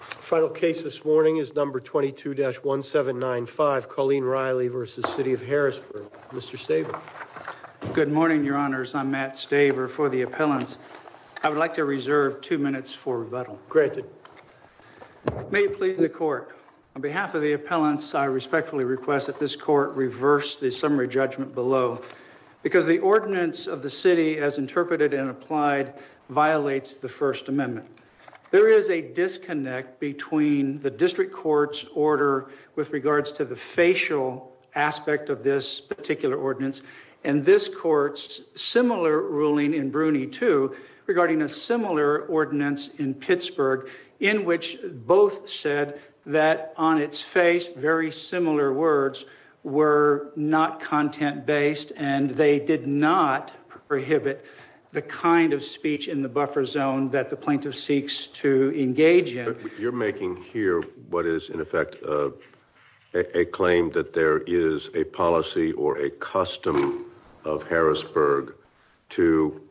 Final case this morning is number 22-1795, Colleen Reilly v. City of Harrisburg. Mr. Staver. Good morning, your honors. I'm Matt Staver for the appellants. I would like to reserve two minutes for rebuttal. Granted. May it please the court, on behalf of the appellants, I respectfully request that this court reverse the summary judgment below because the ordinance of the city as interpreted and between the district court's order with regards to the facial aspect of this particular ordinance and this court's similar ruling in Bruny 2 regarding a similar ordinance in Pittsburgh in which both said that on its face very similar words were not content-based and they did not You're making here what is in effect a claim that there is a policy or a custom of Harrisburg to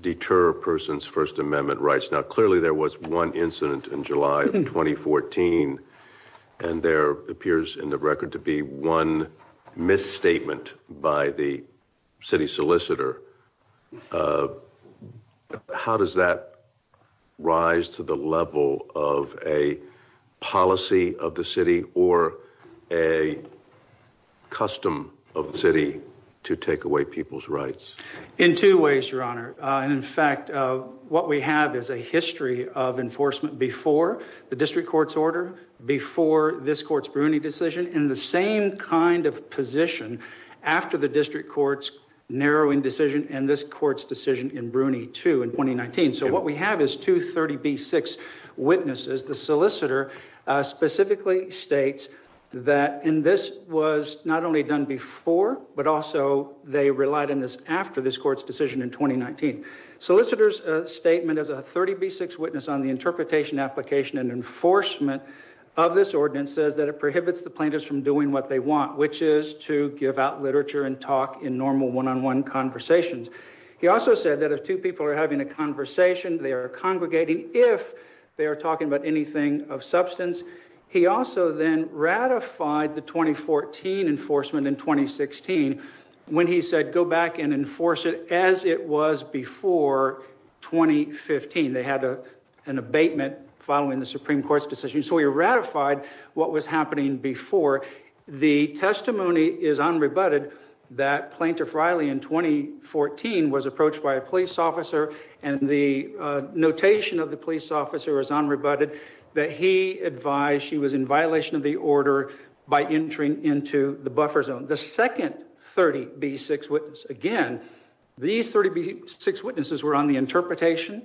deter a person's first amendment rights. Now clearly there was one incident in July of 2014 and there appears in the record to be one misstatement by the city solicitor. How does that rise to the level of a policy of the city or a custom of the city to take away people's rights? In two ways, your honor. In fact, what we have is a history of enforcement before the district court's order, before this court's Bruny decision, in the same kind of position after the district court's narrowing decision and this court's decision in Bruny 2 in 2019. So what we have is two 30b6 witnesses. The solicitor specifically states that and this was not only done before but also they relied on this after this court's decision in 2019. Solicitor's statement as a 30b6 witness on the interpretation application and enforcement of this ordinance says that it literature and talk in normal one-on-one conversations. He also said that if two people are having a conversation, they are congregating if they are talking about anything of substance. He also then ratified the 2014 enforcement in 2016 when he said go back and enforce it as it was before 2015. They had a an abatement following the Supreme Court's decision so he ratified what was happening before. The testimony is unrebutted that Plaintiff Riley in 2014 was approached by a police officer and the notation of the police officer was unrebutted that he advised she was in violation of the order by entering into the buffer zone. The second 30b6 witness again these 30b6 witnesses were on the interpretation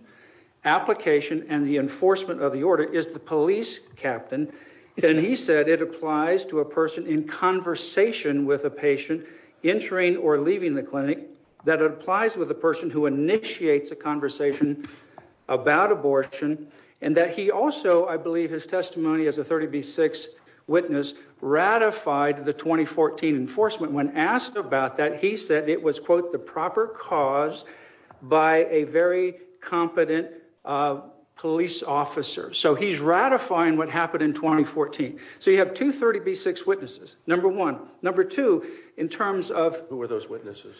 application and the enforcement of the order is the police captain and he said it applies to a person in conversation with a patient entering or leaving the clinic that it applies with a person who initiates a conversation about abortion and that he also I believe his testimony as a 30b6 witness ratified the 2014 enforcement. When asked about that he said it was quote the proper cause by a very competent police officer so he's ratifying what happened in 2014. So you have two 30b6 witnesses number one number two in terms of who were those witnesses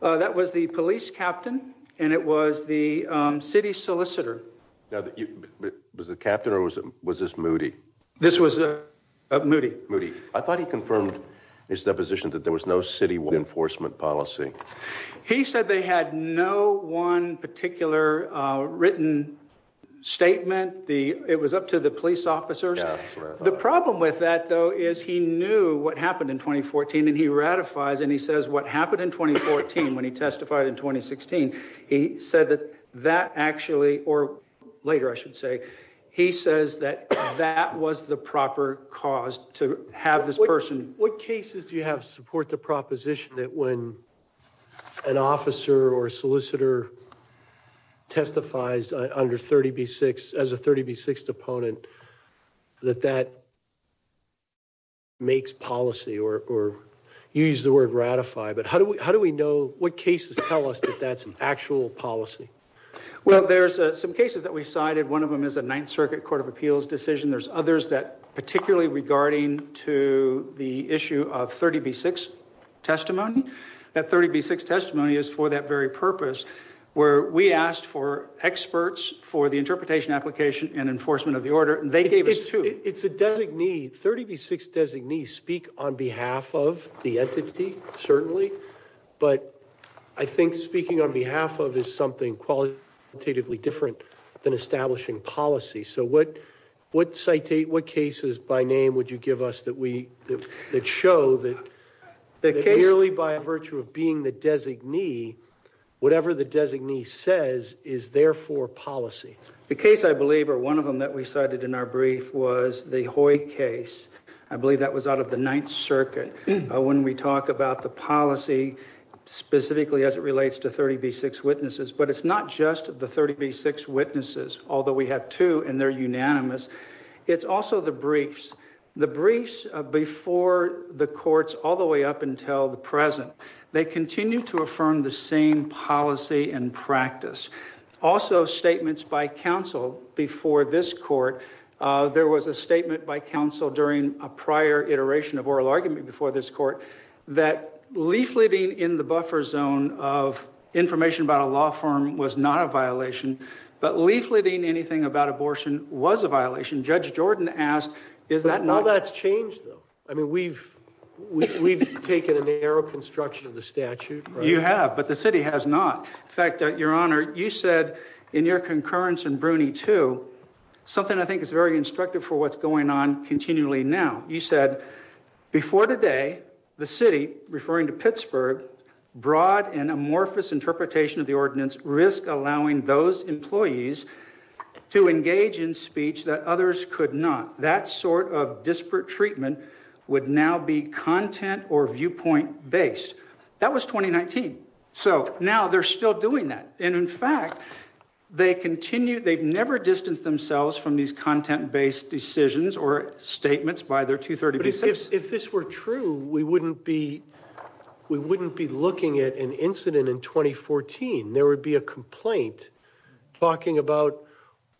that was the police captain and it was the city solicitor now that you was the captain or was it was this moody this was a moody moody I thought he confirmed his deposition that there was no city enforcement policy he said they had no one particular written statement the it was up to the police officers the problem with that though is he knew what happened in 2014 and he ratifies and he says what happened in 2014 when he testified in 2016 he said that that actually or later I should say he says that that was the proper cause to have this person. What cases do you have support the proposition that when an officer or solicitor testifies under 30b6 as a 30b6 deponent that that makes policy or or you use the word ratify but how do we how do we know what cases tell us that that's an actual policy? Well there's some cases that we cited one of them is a ninth circuit court of appeals decision there's others that particularly regarding to the issue of 30b6 testimony that 30b6 testimony is for that very purpose where we asked for experts for the interpretation application and enforcement of the order and they gave us two it's a designee 30b6 designees speak on behalf of the entity certainly but I think speaking on behalf of is something qualitatively different than establishing policy so what what citate what merely by virtue of being the designee whatever the designee says is therefore policy. The case I believe or one of them that we cited in our brief was the Hoy case I believe that was out of the ninth circuit when we talk about the policy specifically as it relates to 30b6 witnesses but it's not just the 30b6 witnesses although we have two and they're unanimous it's also the present they continue to affirm the same policy and practice also statements by counsel before this court there was a statement by counsel during a prior iteration of oral argument before this court that leafleting in the buffer zone of information about a law firm was not a violation but leafleting anything about abortion was a violation judge Jordan asked is that now that's changed though I mean we've we've taken a narrow construction of the statute you have but the city has not in fact your honor you said in your concurrence and bruni too something I think is very instructive for what's going on continually now you said before today the city referring to Pittsburgh broad and amorphous interpretation of the ordinance risk allowing those employees to engage in speech that others could not that sort of disparate treatment would now be content or viewpoint based that was 2019 so now they're still doing that and in fact they continue they've never distanced themselves from these content-based decisions or statements by their 236 if this were true we wouldn't be we wouldn't be looking at an incident in 2014 there would be a complaint talking about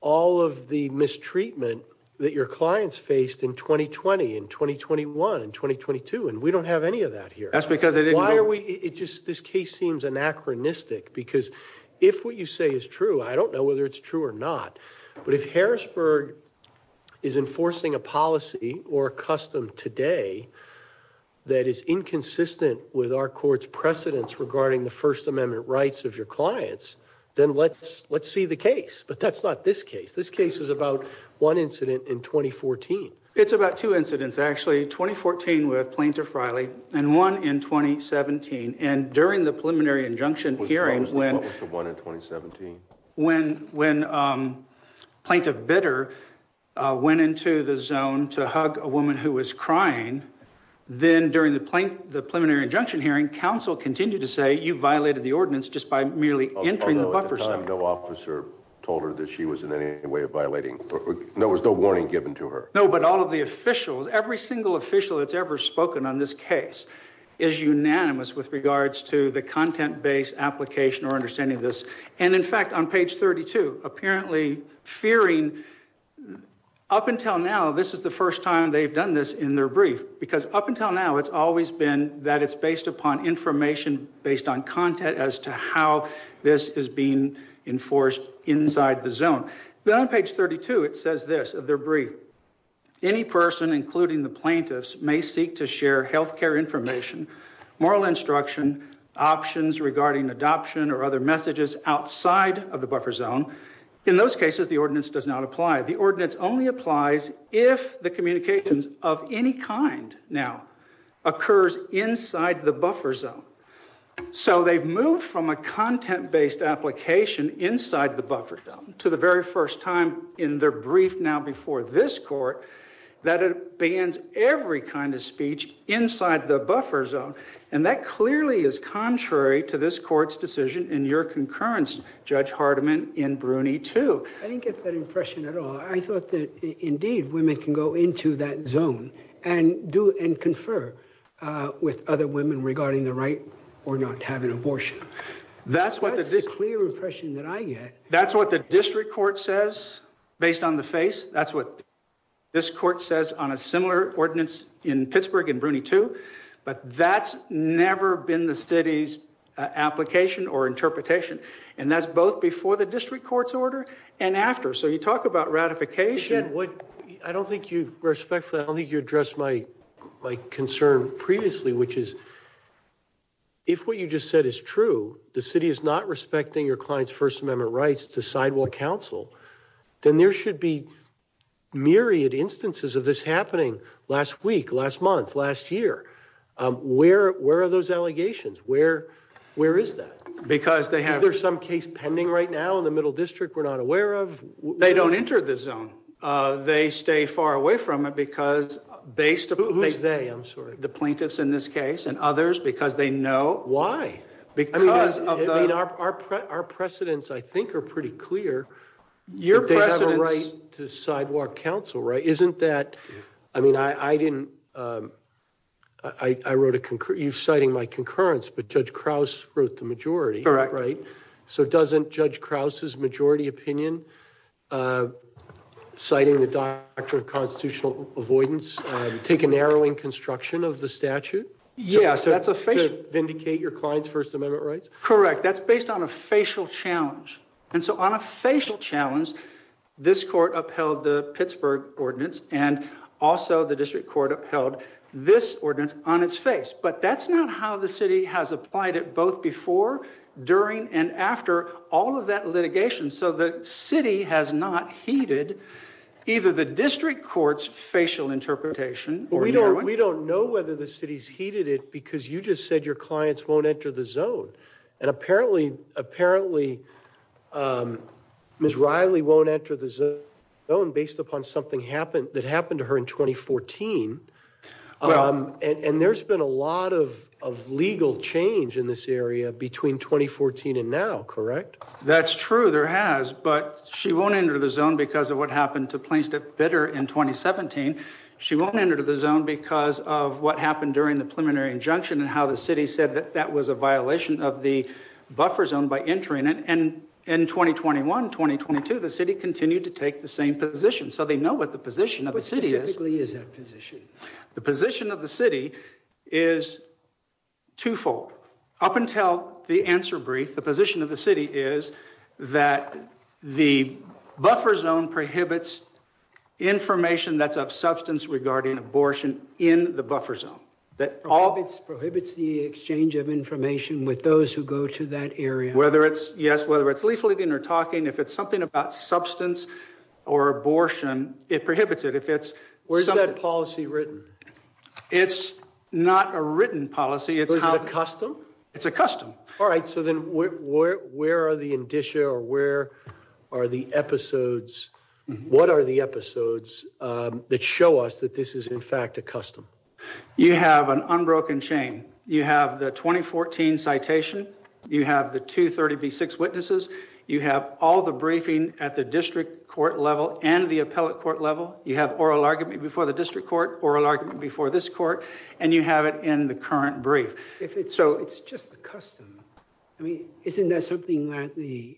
all of the mistreatment that your clients faced in 2020 in 2021 in 2022 and we don't have any of that here that's because they didn't why are we it just this case seems anachronistic because if what you say is true I don't know whether it's true or not but if Harrisburg is enforcing a policy or a custom today that is inconsistent with our court's precedents regarding the first amendment rights of your clients then let's let's see the case but that's not this case this case is about one incident in 2014 it's about two incidents actually 2014 with plaintiff Riley and one in 2017 and during the preliminary injunction hearing when what was the one in 2017 when when um plaintiff bitter uh went into the zone to hug a woman who was crying then during the plane the preliminary injunction hearing council continued to say you violated the ordinance just by merely entering the buffer zone no officer told her that she was in any way of violating there was no warning given to her no but all of the officials every single official that's ever spoken on this case is unanimous with regards to the content-based application or understanding this and in fact on page 32 apparently fearing up until now this is the first time they've done this in their brief because up until now it's always been that it's based upon information based on content as to how this is being enforced inside the zone then on page 32 it says this of their brief any person including the plaintiffs may seek to share health care information moral instruction options regarding adoption or other messages outside of the buffer zone in those cases the ordinance does not apply the ordinance only applies if the communications of any kind now occurs inside the buffer zone so they've moved from a content-based application inside the buffer zone to the very first time in their brief now before this court that it bans every kind of speech inside the buffer zone and that clearly is contrary to this court's in your concurrence judge hardeman in bruny too i didn't get that impression at all i thought that indeed women can go into that zone and do and confer uh with other women regarding the right or not having abortion that's what the clear impression that i get that's what the district court says based on the face that's what this court says on a similar ordinance in pittsburgh and bruny too but that's never been the city's application or interpretation and that's both before the district court's order and after so you talk about ratification what i don't think you respectfully i don't think you addressed my my concern previously which is if what you just said is true the city is not respecting your client's first amendment rights to sidewall council then there should be myriad instances of this happening last week last month last year um where where are those allegations where where is that because they have there's some case pending right now in the middle district we're not aware of they don't enter this zone uh they stay far away from it because based upon they i'm sorry the plaintiffs in this case and others because they know why because i mean our our precedents i think are pretty clear your president's right to sidewalk council right isn't that i mean i i didn't um i i wrote a concur you citing my concurrence but judge kraus wrote the majority correct right so doesn't judge kraus's majority opinion uh citing the doctrine of constitutional avoidance um take a narrowing construction of the client's first amendment rights correct that's based on a facial challenge and so on a facial challenge this court upheld the pittsburgh ordinance and also the district court upheld this ordinance on its face but that's not how the city has applied it both before during and after all of that litigation so the city has not heeded either the district court's facial interpretation we don't we don't know whether the city's heated it because you just said your clients won't enter the zone and apparently apparently um miss riley won't enter the zone based upon something happened that happened to her in 2014 um and there's been a lot of of legal change in this area between 2014 and now correct that's true there has but she won't enter the zone because of what happened to plaintiff bitter in 2017 she won't enter the injunction and how the city said that that was a violation of the buffer zone by entering it and in 2021 2022 the city continued to take the same position so they know what the position of the city specifically is that position the position of the city is twofold up until the answer brief the position of the city is that the buffer zone prohibits information that's of substance regarding abortion in the buffer zone that all of its prohibits the exchange of information with those who go to that area whether it's yes whether it's leafleting or talking if it's something about substance or abortion it prohibits it if it's where's that policy written it's not a written policy it's not a custom it's a custom all right so then where where are the indicia or where are the episodes what are the episodes that show us that this is in fact a custom you have an unbroken chain you have the 2014 citation you have the 236 witnesses you have all the briefing at the district court level and the appellate court level you have oral argument before the district court oral argument before this court and you have it in the current brief if it's so it's just a custom i mean isn't that something that the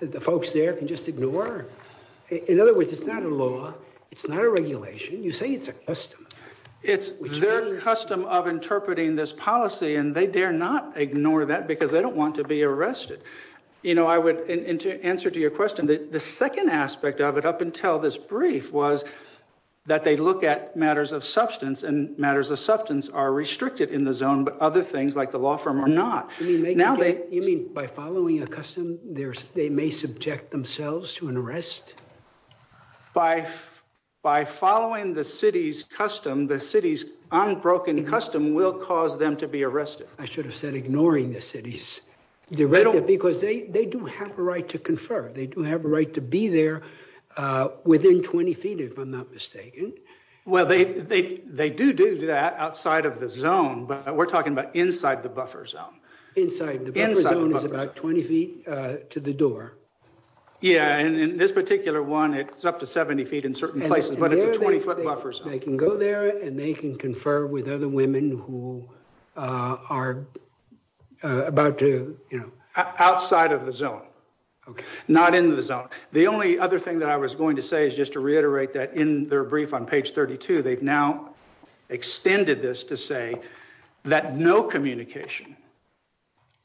the folks there can just ignore in other words it's not a law it's not a regulation you say it's a custom it's their custom of interpreting this policy and they dare not ignore that because they don't want to be arrested you know i would answer to your question that the second aspect of it up until this brief was that they look at matters of substance and matters of substance are restricted in the zone but other things like the law firm are not now they you mean by following a custom there's they may subject themselves to an arrest by by following the city's custom the city's unbroken custom will cause them to be arrested i should have said ignoring the city's director because they they do have a right to confer they do have a right to be there uh within 20 feet if i'm not mistaken well they they they do do that outside of the zone but we're talking about inside the buffer zone inside the zone is about 20 feet uh to the door yeah and in this particular one it's up to 70 feet in certain places but it's a 20 foot buffer so they can go there and they can confer with other women who are about to you know outside of the zone okay not into the zone the only other thing that i was going to say is just to reiterate that in their brief on page 32 they've now extended this to say that no communication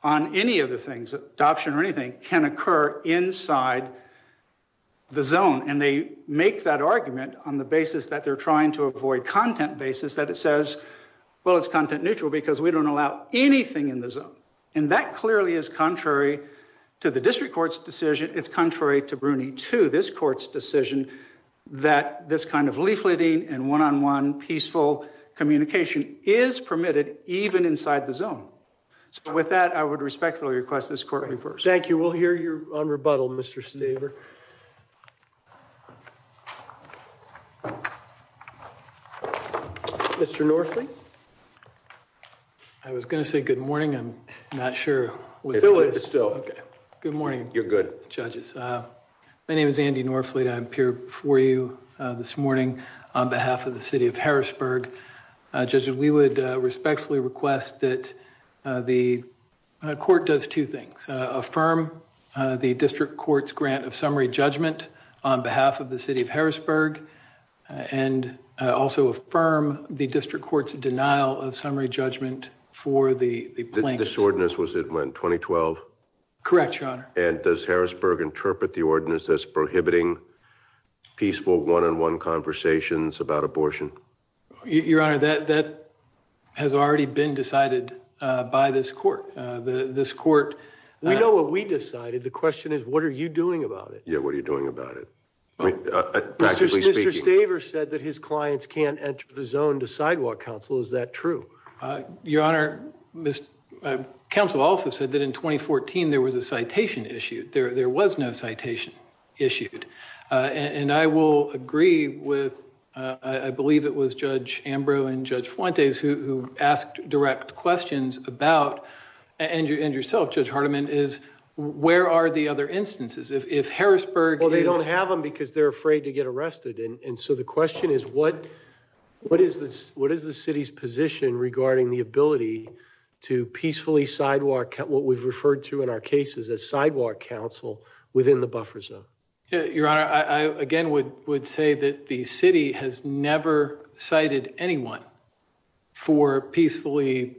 on any of the things adoption or anything can occur inside the zone and they make that argument on the basis that they're trying to avoid content basis that it says well it's content because we don't allow anything in the zone and that clearly is contrary to the district court's decision it's contrary to bruni to this court's decision that this kind of leafleting and one-on-one peaceful communication is permitted even inside the zone so with that i would respectfully request this courtroom first thank you we'll hear you on rebuttal mr staver mr norfleet i was going to say good morning i'm not sure it's still okay good morning you're good judges uh my name is andy norfleet i'm here before you uh this morning on behalf of the city of harrisburg uh judges we would respectfully request that uh the court does two things affirm the district court's grant of summary judgment on behalf of the city of harrisburg and also affirm the district court's denial of summary judgment for the the plaintiff's ordinance was it went 2012 correct your honor and does harrisburg interpret the ordinance as prohibiting peaceful one-on-one conversations about abortion your honor that that has already been decided uh by this court uh the this court we know what we decided the question is what are you doing about it yeah what are you doing about it i mean actually speaking daver said that his clients can't enter the zone to sidewalk council is that true uh your honor miss council also said that in 2014 there was a citation issued there there was no citation issued uh and i will agree with uh i believe it was judge ambrose and judge fuentes who asked direct questions about and you and yourself judge hardeman is where are the other instances if harrisburg well they don't have them because they're afraid to get arrested and so the question is what what is this what is the city's position regarding the ability to peacefully sidewalk what we've referred to in our cases as sidewalk council within the buffer zone your honor i again would would say that the city has never cited anyone for peacefully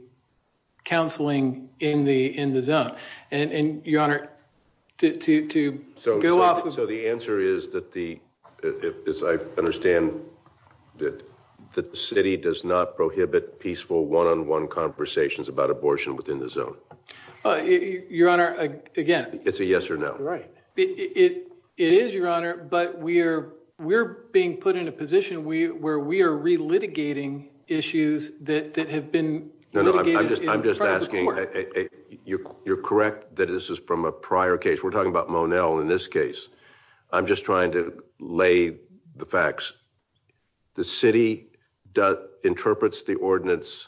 counseling in the in the zone and and your honor to to go off so the answer is that the as i understand that that the city does not prohibit peaceful one-on-one conversations about yes or no right it it is your honor but we are we're being put in a position we where we are re-litigating issues that that have been no no i'm just i'm just asking you you're correct that this is from a prior case we're talking about monel in this case i'm just trying to lay the facts the city does interprets the ordinance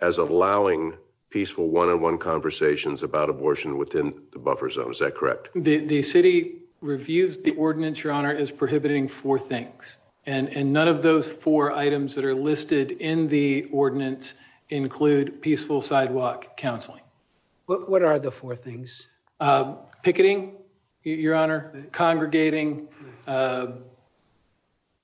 as allowing peaceful one-on-one conversations about abortion within the buffer zone is that correct the the city reviews the ordinance your honor is prohibiting four things and and none of those four items that are listed in the ordinance include peaceful sidewalk counseling what what are the four things uh picketing your honor congregating uh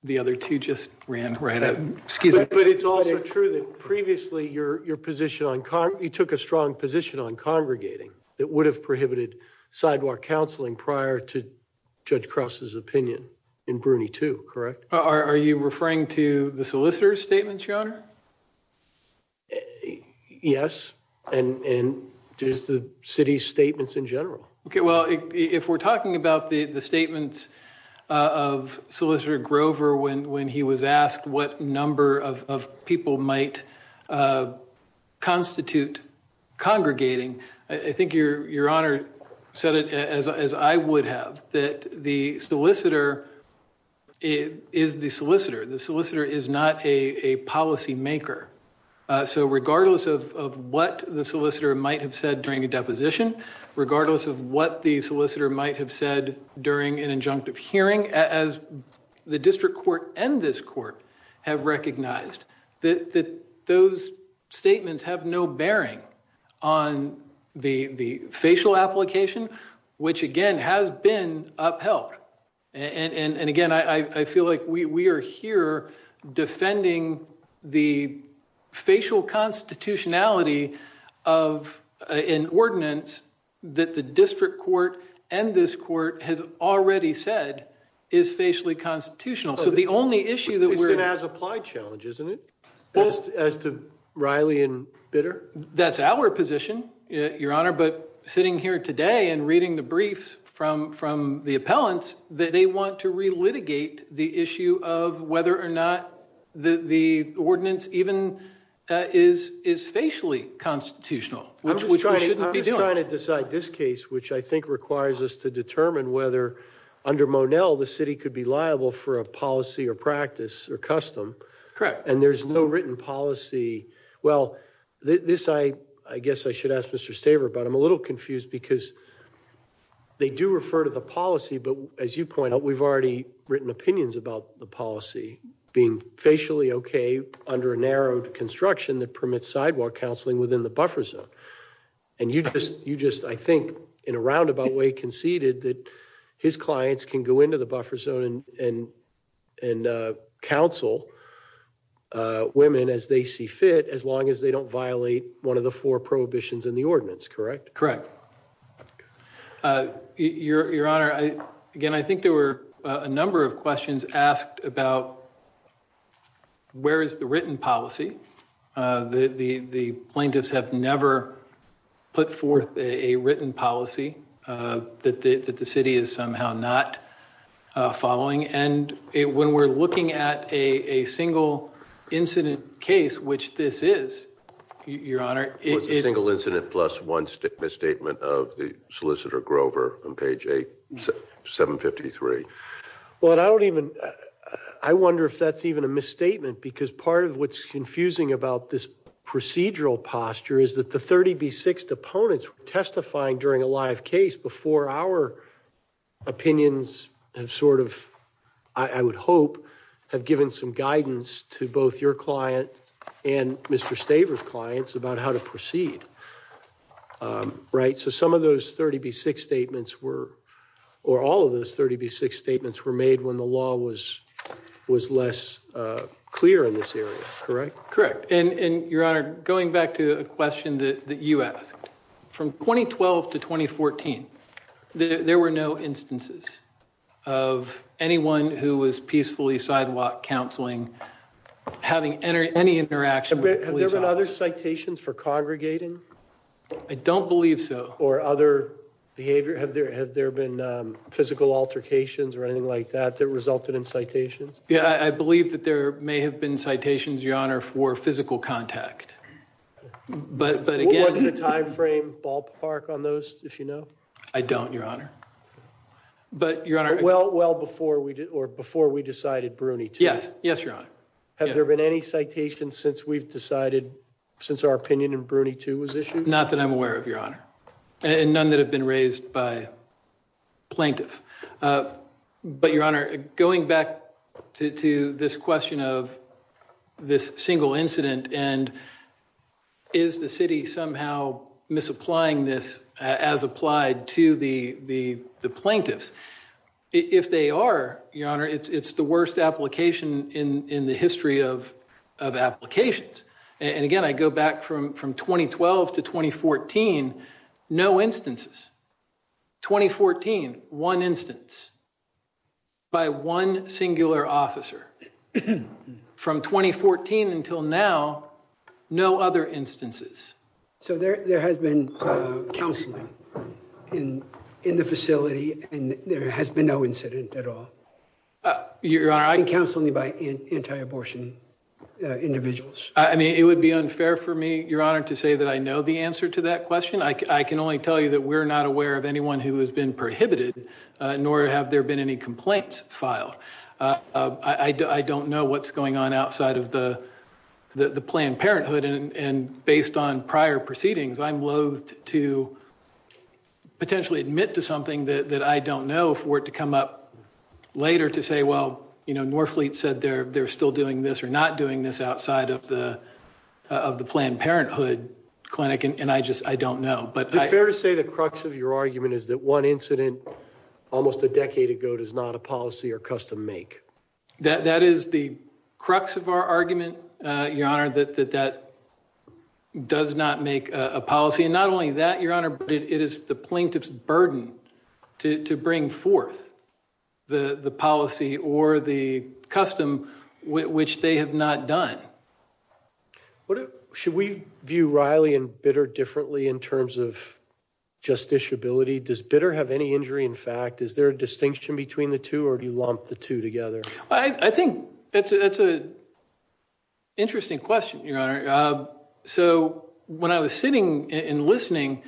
the other two just ran right excuse me but it's also true that previously your your position on con you took a strong position on congregating that would have prohibited sidewalk counseling prior to judge krause's opinion in bruny too correct are you referring to the solicitor's statements your honor yes and and just the city's statements in general okay well if we're talking about the the statements of solicitor grover when when he was asked what number of of people might uh constitute congregating i think your your honor said it as as i would have that the solicitor is the solicitor the solicitor is not a a policy maker uh so regardless of of what the solicitor might have said during a deposition regardless of what the solicitor might have said during an injunctive hearing as the district court and this court have recognized that that those statements have no bearing on the the facial application which again has been upheld and and and again i i feel like we we are here defending the facial constitutionality of an ordinance that the district court and this court has already said is facially constitutional so the only issue that we're as applied challenge isn't it as to riley and bitter that's our position your honor but sitting here today and reading the briefs from from the appellants that they want to re-litigate the issue of whether or not the the ordinance even is is facially constitutional which we shouldn't be doing trying to decide this case which i think requires us to determine whether under monel the city could be liable for a policy or practice or custom correct and there's no written policy well this i i guess i should ask mr staver but i'm a little confused because they do refer to the policy but as you point out we've already written opinions about the policy being facially okay under a narrowed construction that in a roundabout way conceded that his clients can go into the buffer zone and and uh counsel uh women as they see fit as long as they don't violate one of the four prohibitions in the ordinance correct correct uh your your honor i again i think there were a number of questions asked about where is the written policy uh the the the plaintiffs have never put forth a written policy uh that the that the city is somehow not uh following and when we're looking at a a single incident case which this is your honor it's a single incident plus one statement misstatement of the solicitor grover on page eight 753 well i don't even i wonder if that's even a misstatement because part of what's confusing about this procedural posture is that the 30b6 opponents were testifying during a live case before our opinions have sort of i would hope have given some guidance to both your client and mr staver's clients about how to proceed um right so some of those 30b6 statements were or all of those 30b6 statements were made when the law was was less uh clear in this area correct correct and and your honor going back to a question that you asked from 2012 to 2014 there were no instances of anyone who was peacefully sidewalk counseling having any interaction have there been other citations for congregating i don't believe so or other behavior have there have there been um physical altercations or anything like that that resulted in citations yeah i believe that there may have been citations your honor for physical contact but but again what's the time frame ballpark on those if you know i don't your honor but your honor well well before we did or before we decided brooney yes yes your honor have there been any citations since we've decided since our opinion in brooney was issued not that i'm aware of your honor and none that have been raised by plaintiff but your honor going back to to this question of this single incident and is the city somehow misapplying this as applied to the the the plaintiffs if they are your honor it's the worst application in in the history of of applications and again i go back from from 2012 to 2014 no instances 2014 one instance by one singular officer from 2014 until now no other instances so there there has been uh counseling in in the facility and there has been no incident at all you're counseling by anti-abortion individuals i mean it would be unfair for me your honor to say that i know the answer to that question i can only tell you that we're not aware of anyone who has been prohibited nor have there been any complaints filed i i don't know what's going on outside of the the planned parenthood based on prior proceedings i'm loathed to potentially admit to something that i don't know for it to come up later to say well you know norfleet said they're they're still doing this or not doing this outside of the of the planned parenthood clinic and i just i don't know but it's fair to say the crux of your argument is that one incident almost a decade ago does not a does not make a policy and not only that your honor but it is the plaintiff's burden to to bring forth the the policy or the custom which they have not done what should we view riley and bitter differently in terms of justiciability does bitter have any injury in fact is there a distinction between the two or do you lump the two together i think that's a that's a interesting question your honor so when i was sitting and listening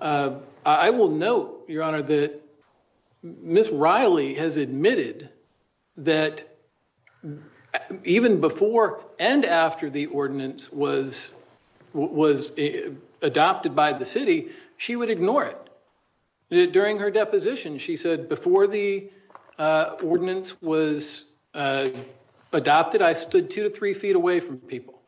i will note your honor that miss riley has admitted that even before and after the ordinance was was adopted by the city she would ignore it during her deposition she said before the ordinance was adopted i stood two to three feet away from people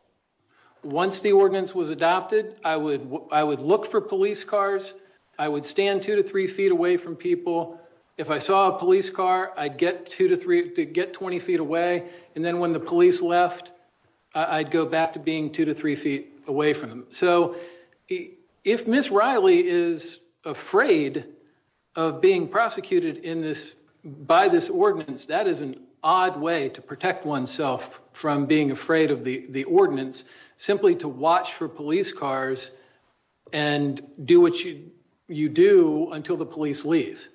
once the ordinance was adopted i would i would look for police cars i would stand two to three feet away from people if i saw a police car i'd get two to three to get 20 feet away and then when the police left i'd go back to being two to three feet away from them so if miss riley is afraid of being prosecuted in this by this ordinance that is an odd way to protect oneself from being afraid of the the ordinance simply to watch for police cars and do what you you do until the police leave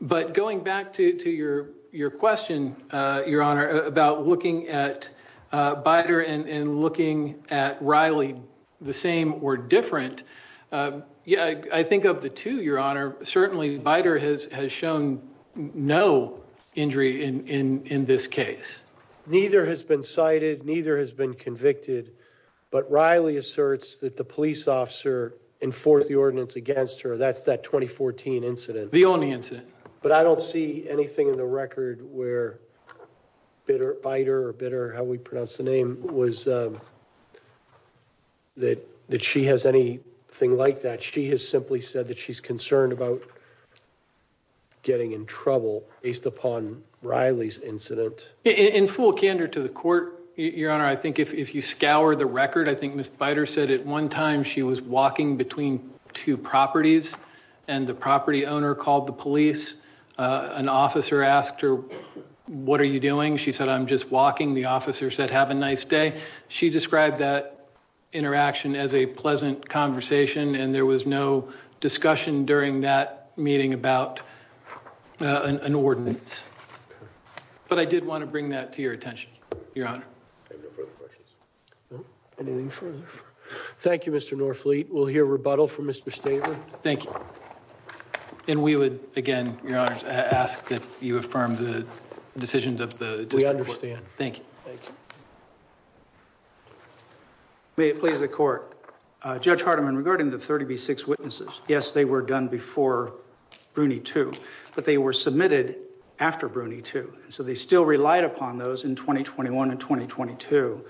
but going back to to your your question uh your honor about looking at uh and looking at riley the same or different uh yeah i think of the two your honor certainly biter has has shown no injury in in in this case neither has been cited neither has been convicted but riley asserts that the police officer enforced the ordinance against her that's that 2014 incident the only incident but i don't see anything in the record where bitter biter or bitter how we pronounce the name was um that that she has anything like that she has simply said that she's concerned about getting in trouble based upon riley's incident in full candor to the court your honor i think if if you scour the record i think miss biter said at one time she was walking between two properties and the property owner called the police uh an officer asked her what are you doing she said i'm just walking the officer said have a nice day she described that interaction as a pleasant conversation and there was no discussion during that meeting about an ordinance but i did want to bring that to your attention your honor no further questions anything further thank you mr norfleet we'll hear rebuttal from mr stater thank you and we would again your honor ask that you affirm the decisions of the we understand thank you thank you may it please the court uh judge hardeman regarding the 30b6 witnesses yes they were done before bruny 2 but they were submitted after bruny 2 so they still relied upon those in 2021 and 2022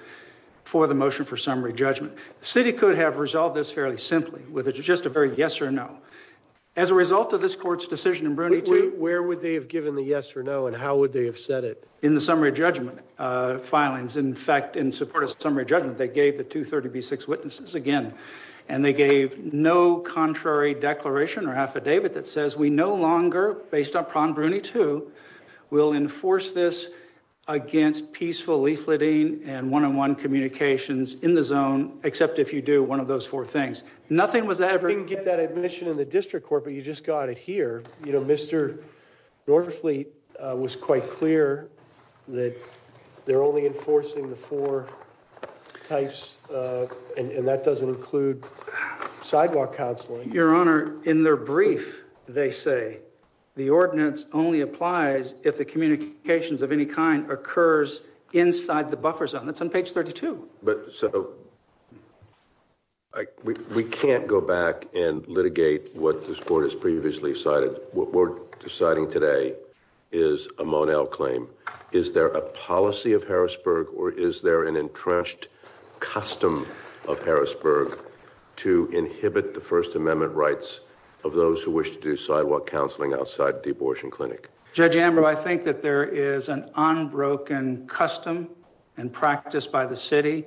for the motion for summary judgment the city could have resolved this fairly simply with just a very yes or no as a result of this court's decision in bruny 2 where would they have given the yes or no and how would they have said it in the summary judgment uh filings in fact in support of summary judgment they gave the 230b6 witnesses again and they gave no contrary declaration or affidavit that says we no longer based upon bruny 2 will enforce this against peaceful leafleting and one-on-one communications in the zone except if you do one of those four things nothing was ever you can get that admission in the district court but you just got it here you know mr norfleet uh was quite clear that they're only enforcing the four types uh and that doesn't include sidewalk counseling your honor in their brief they say the ordinance only applies if the communications of any kind occurs inside the buffer zone that's on page 32 but so i we we can't go back and litigate what this court has previously cited what we're deciding today is a monel claim is there a policy of harrisburg or is there an entrenched custom of harrisburg to inhibit the first amendment rights of those who wish to do sidewalk counseling outside the abortion clinic judge amber i think that there is an unbroken custom and practice by the city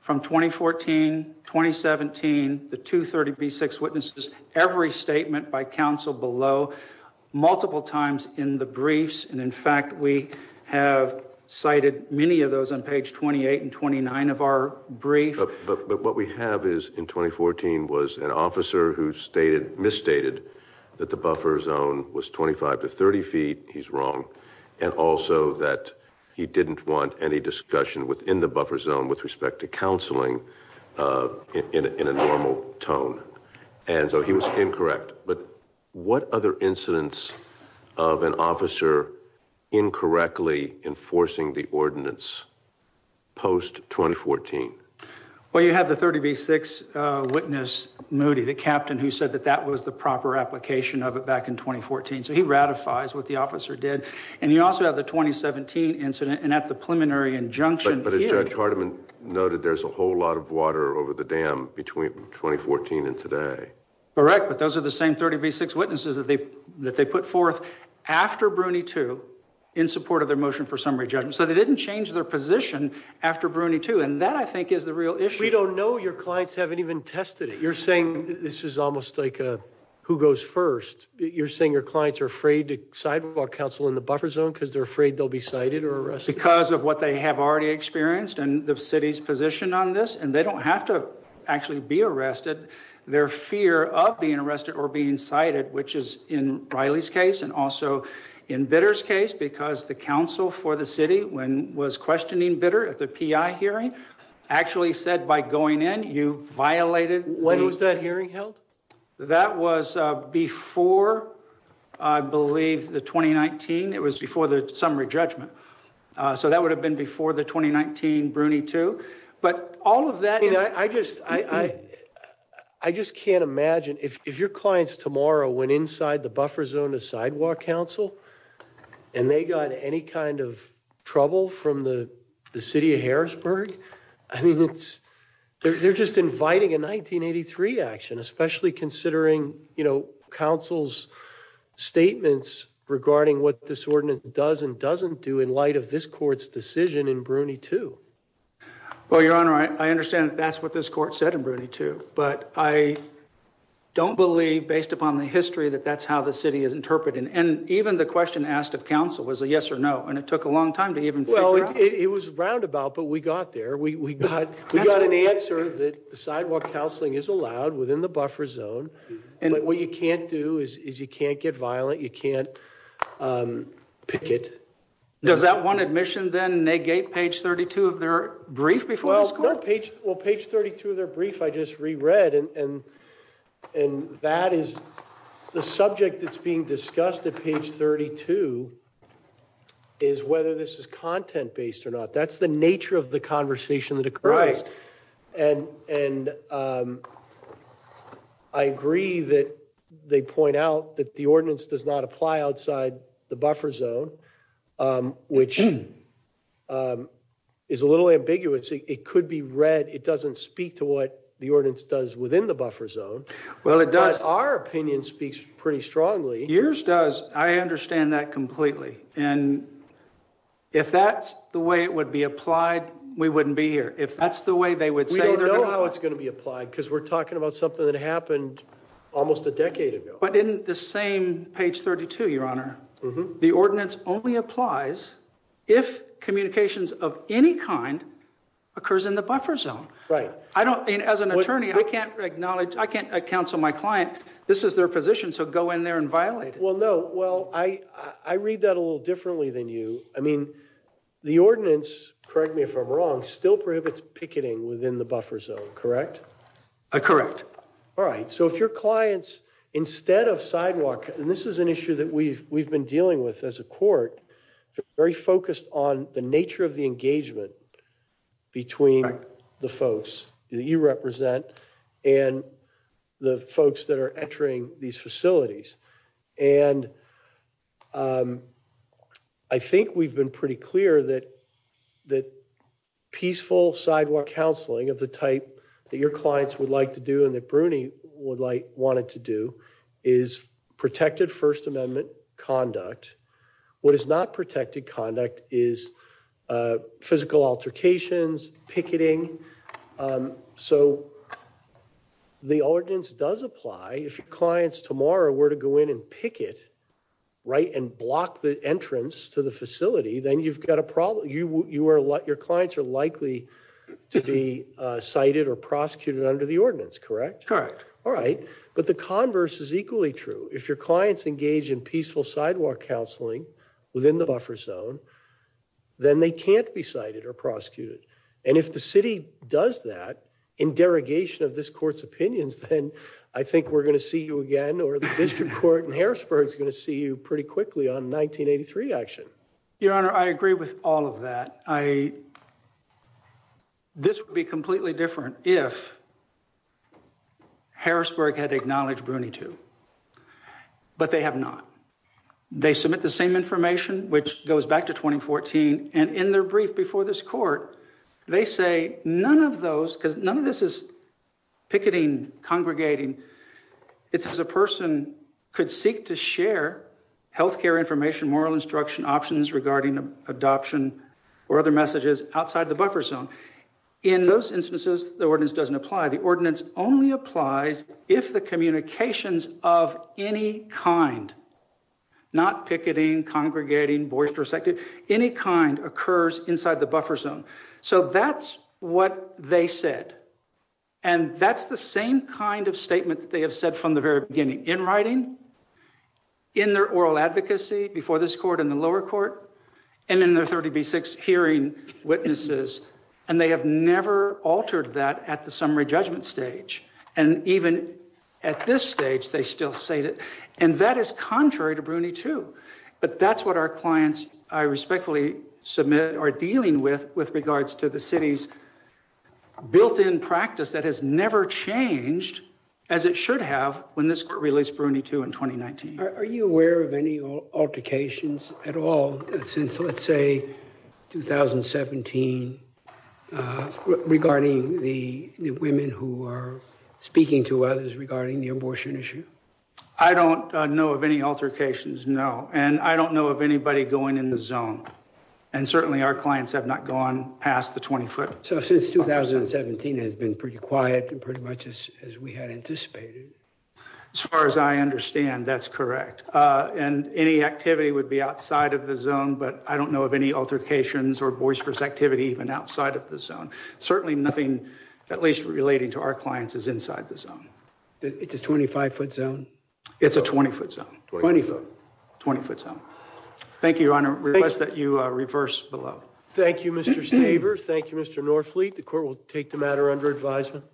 from 2014 2017 the 230b6 witnesses every statement by council below multiple times in the briefs and in fact we have cited many of those on page 28 and 29 of our brief but but what we have is in 2014 was an officer who stated misstated that the buffer zone was 25 to 30 feet he's wrong and also that he didn't want any discussion within the buffer zone with respect to counseling uh in in a normal tone and so he was incorrect but what other incidents of an officer incorrectly enforcing the ordinance post 2014 well you have the 30b6 witness moody the captain who said that that was the proper application of it back in 2014 so he ratifies what the officer did and you also have the 2017 incident and at the preliminary injunction but as judge hardeman noted there's a whole lot of water over the dam between 2014 and today correct but those are the same 30b6 witnesses that they that they put forth after bruny 2 in support of their motion for summary judgment so they didn't change their position after bruny 2 and that i think is the real issue we don't know your clients haven't even tested it you're saying this is almost like uh who goes first you're saying your clients are afraid to sidewalk counsel in the buffer zone because they're afraid they'll be cited or arrested because of what they have already experienced and the city's position on this and they don't have to actually be arrested their fear of being arrested or being cited which is in riley's case and also in bitter's case because the council for the city when was questioning bitter at the pi hearing actually said by going in you violated when was that hearing held that was uh before i believe the 2019 it was before the summary judgment uh so that would have been before the i i just can't imagine if if your clients tomorrow went inside the buffer zone to sidewalk council and they got any kind of trouble from the the city of harrisburg i mean it's they're just inviting a 1983 action especially considering you know council's statements regarding what this ordinance does and doesn't do in light of this court's decision in bruny 2 well your honor i understand that's what this court said in bruny 2 but i don't believe based upon the history that that's how the city is interpreting and even the question asked of council was a yes or no and it took a long time to even well it was roundabout but we got there we we got we got an answer that the sidewalk counseling is allowed within the buffer zone and what you can't do is you can't get violent you can't um pick it does that one admission then negate page 32 of their brief before school page well page 32 of their brief i just reread and and and that is the subject that's being discussed at page 32 is whether this is content-based or not that's the nature of the conversation that occurs and and um i agree that they point out that the ordinance does not apply outside the buffer zone um which um is a little ambiguous it could be read it doesn't speak to what the ordinance does within the buffer zone well it does our opinion speaks pretty strongly yours does i understand that completely and if that's the way it would be applied we wouldn't be here if that's the way they would say they don't know how it's going to be applied because we're talking about something that happened almost a decade ago but in the same page 32 your honor the ordinance only applies if communications of any kind occurs in the buffer zone right i don't mean as an attorney i can't acknowledge i can't counsel my client this is their position so go in there and violate it well no well i i read that a little differently than you i mean the ordinance correct me if i'm wrong still prohibits picketing within the buffer zone correct correct all right so if your clients instead of sidewalk and this is an issue that we've we've been dealing with as a court they're very focused on the nature of the engagement between the folks that you represent and the folks that are entering these facilities and um i think we've been pretty clear that that peaceful sidewalk counseling of the type that your clients would like to do and that bruny would like wanted to do is protected first amendment conduct what is not protected conduct is uh physical altercations picketing um so the ordinance does apply if your clients tomorrow were to go in and picket right and block the entrance to the facility then you've got a problem you you are let your clients are likely to be uh cited or prosecuted under the ordinance correct correct all right but the converse is equally true if your clients engage in peaceful sidewalk counseling within the buffer zone then they can't be cited or prosecuted and if the city does that in derogation of this court's opinions then i think we're going to see you again or the district court in harrisburg is going to see you pretty quickly on 1983 action your honor i agree with all of that i this would be completely different if harrisburg had acknowledged bruny too but they have not they submit the same information which goes back to 2014 and in their brief before this court they say none of those because none of this is picketing congregating it's as a person could seek to share health care information moral instruction options regarding adoption or other messages outside the buffer zone in those instances the ordinance doesn't apply the ordinance only applies if the communications of any kind not picketing congregating boisterous any kind occurs inside the buffer zone so that's what they said and that's the same kind of statement that they have said from the very beginning in writing in their oral advocacy before this court in the lower court and in their 30b6 hearing witnesses and they have never altered that at the summary judgment stage and even at this stage they still say that and that is contrary to bruny too but that's what our clients i respectfully submit are dealing with with regards to the city's built-in practice that has never changed as it should have when this court released bruny too in 2019 are you aware of any altercations at all since let's say 2017 uh regarding the the women who are speaking to others regarding the abortion issue i don't know of any altercations no and i don't know of anybody going in the zone and certainly our clients have not gone past the 20 foot so since 2017 has been pretty quiet pretty much as we had anticipated as far as i understand that's correct uh and any activity would be outside of the zone but i don't know of any altercations or boisterous activity even outside of the zone certainly nothing at least relating to our clients is inside the zone it's a 25 foot zone it's a 20 foot zone 20 foot 20 foot zone thank you your honor request that you uh reverse below thank you mr savers thank you mr norfleet the court will take the matter under advisement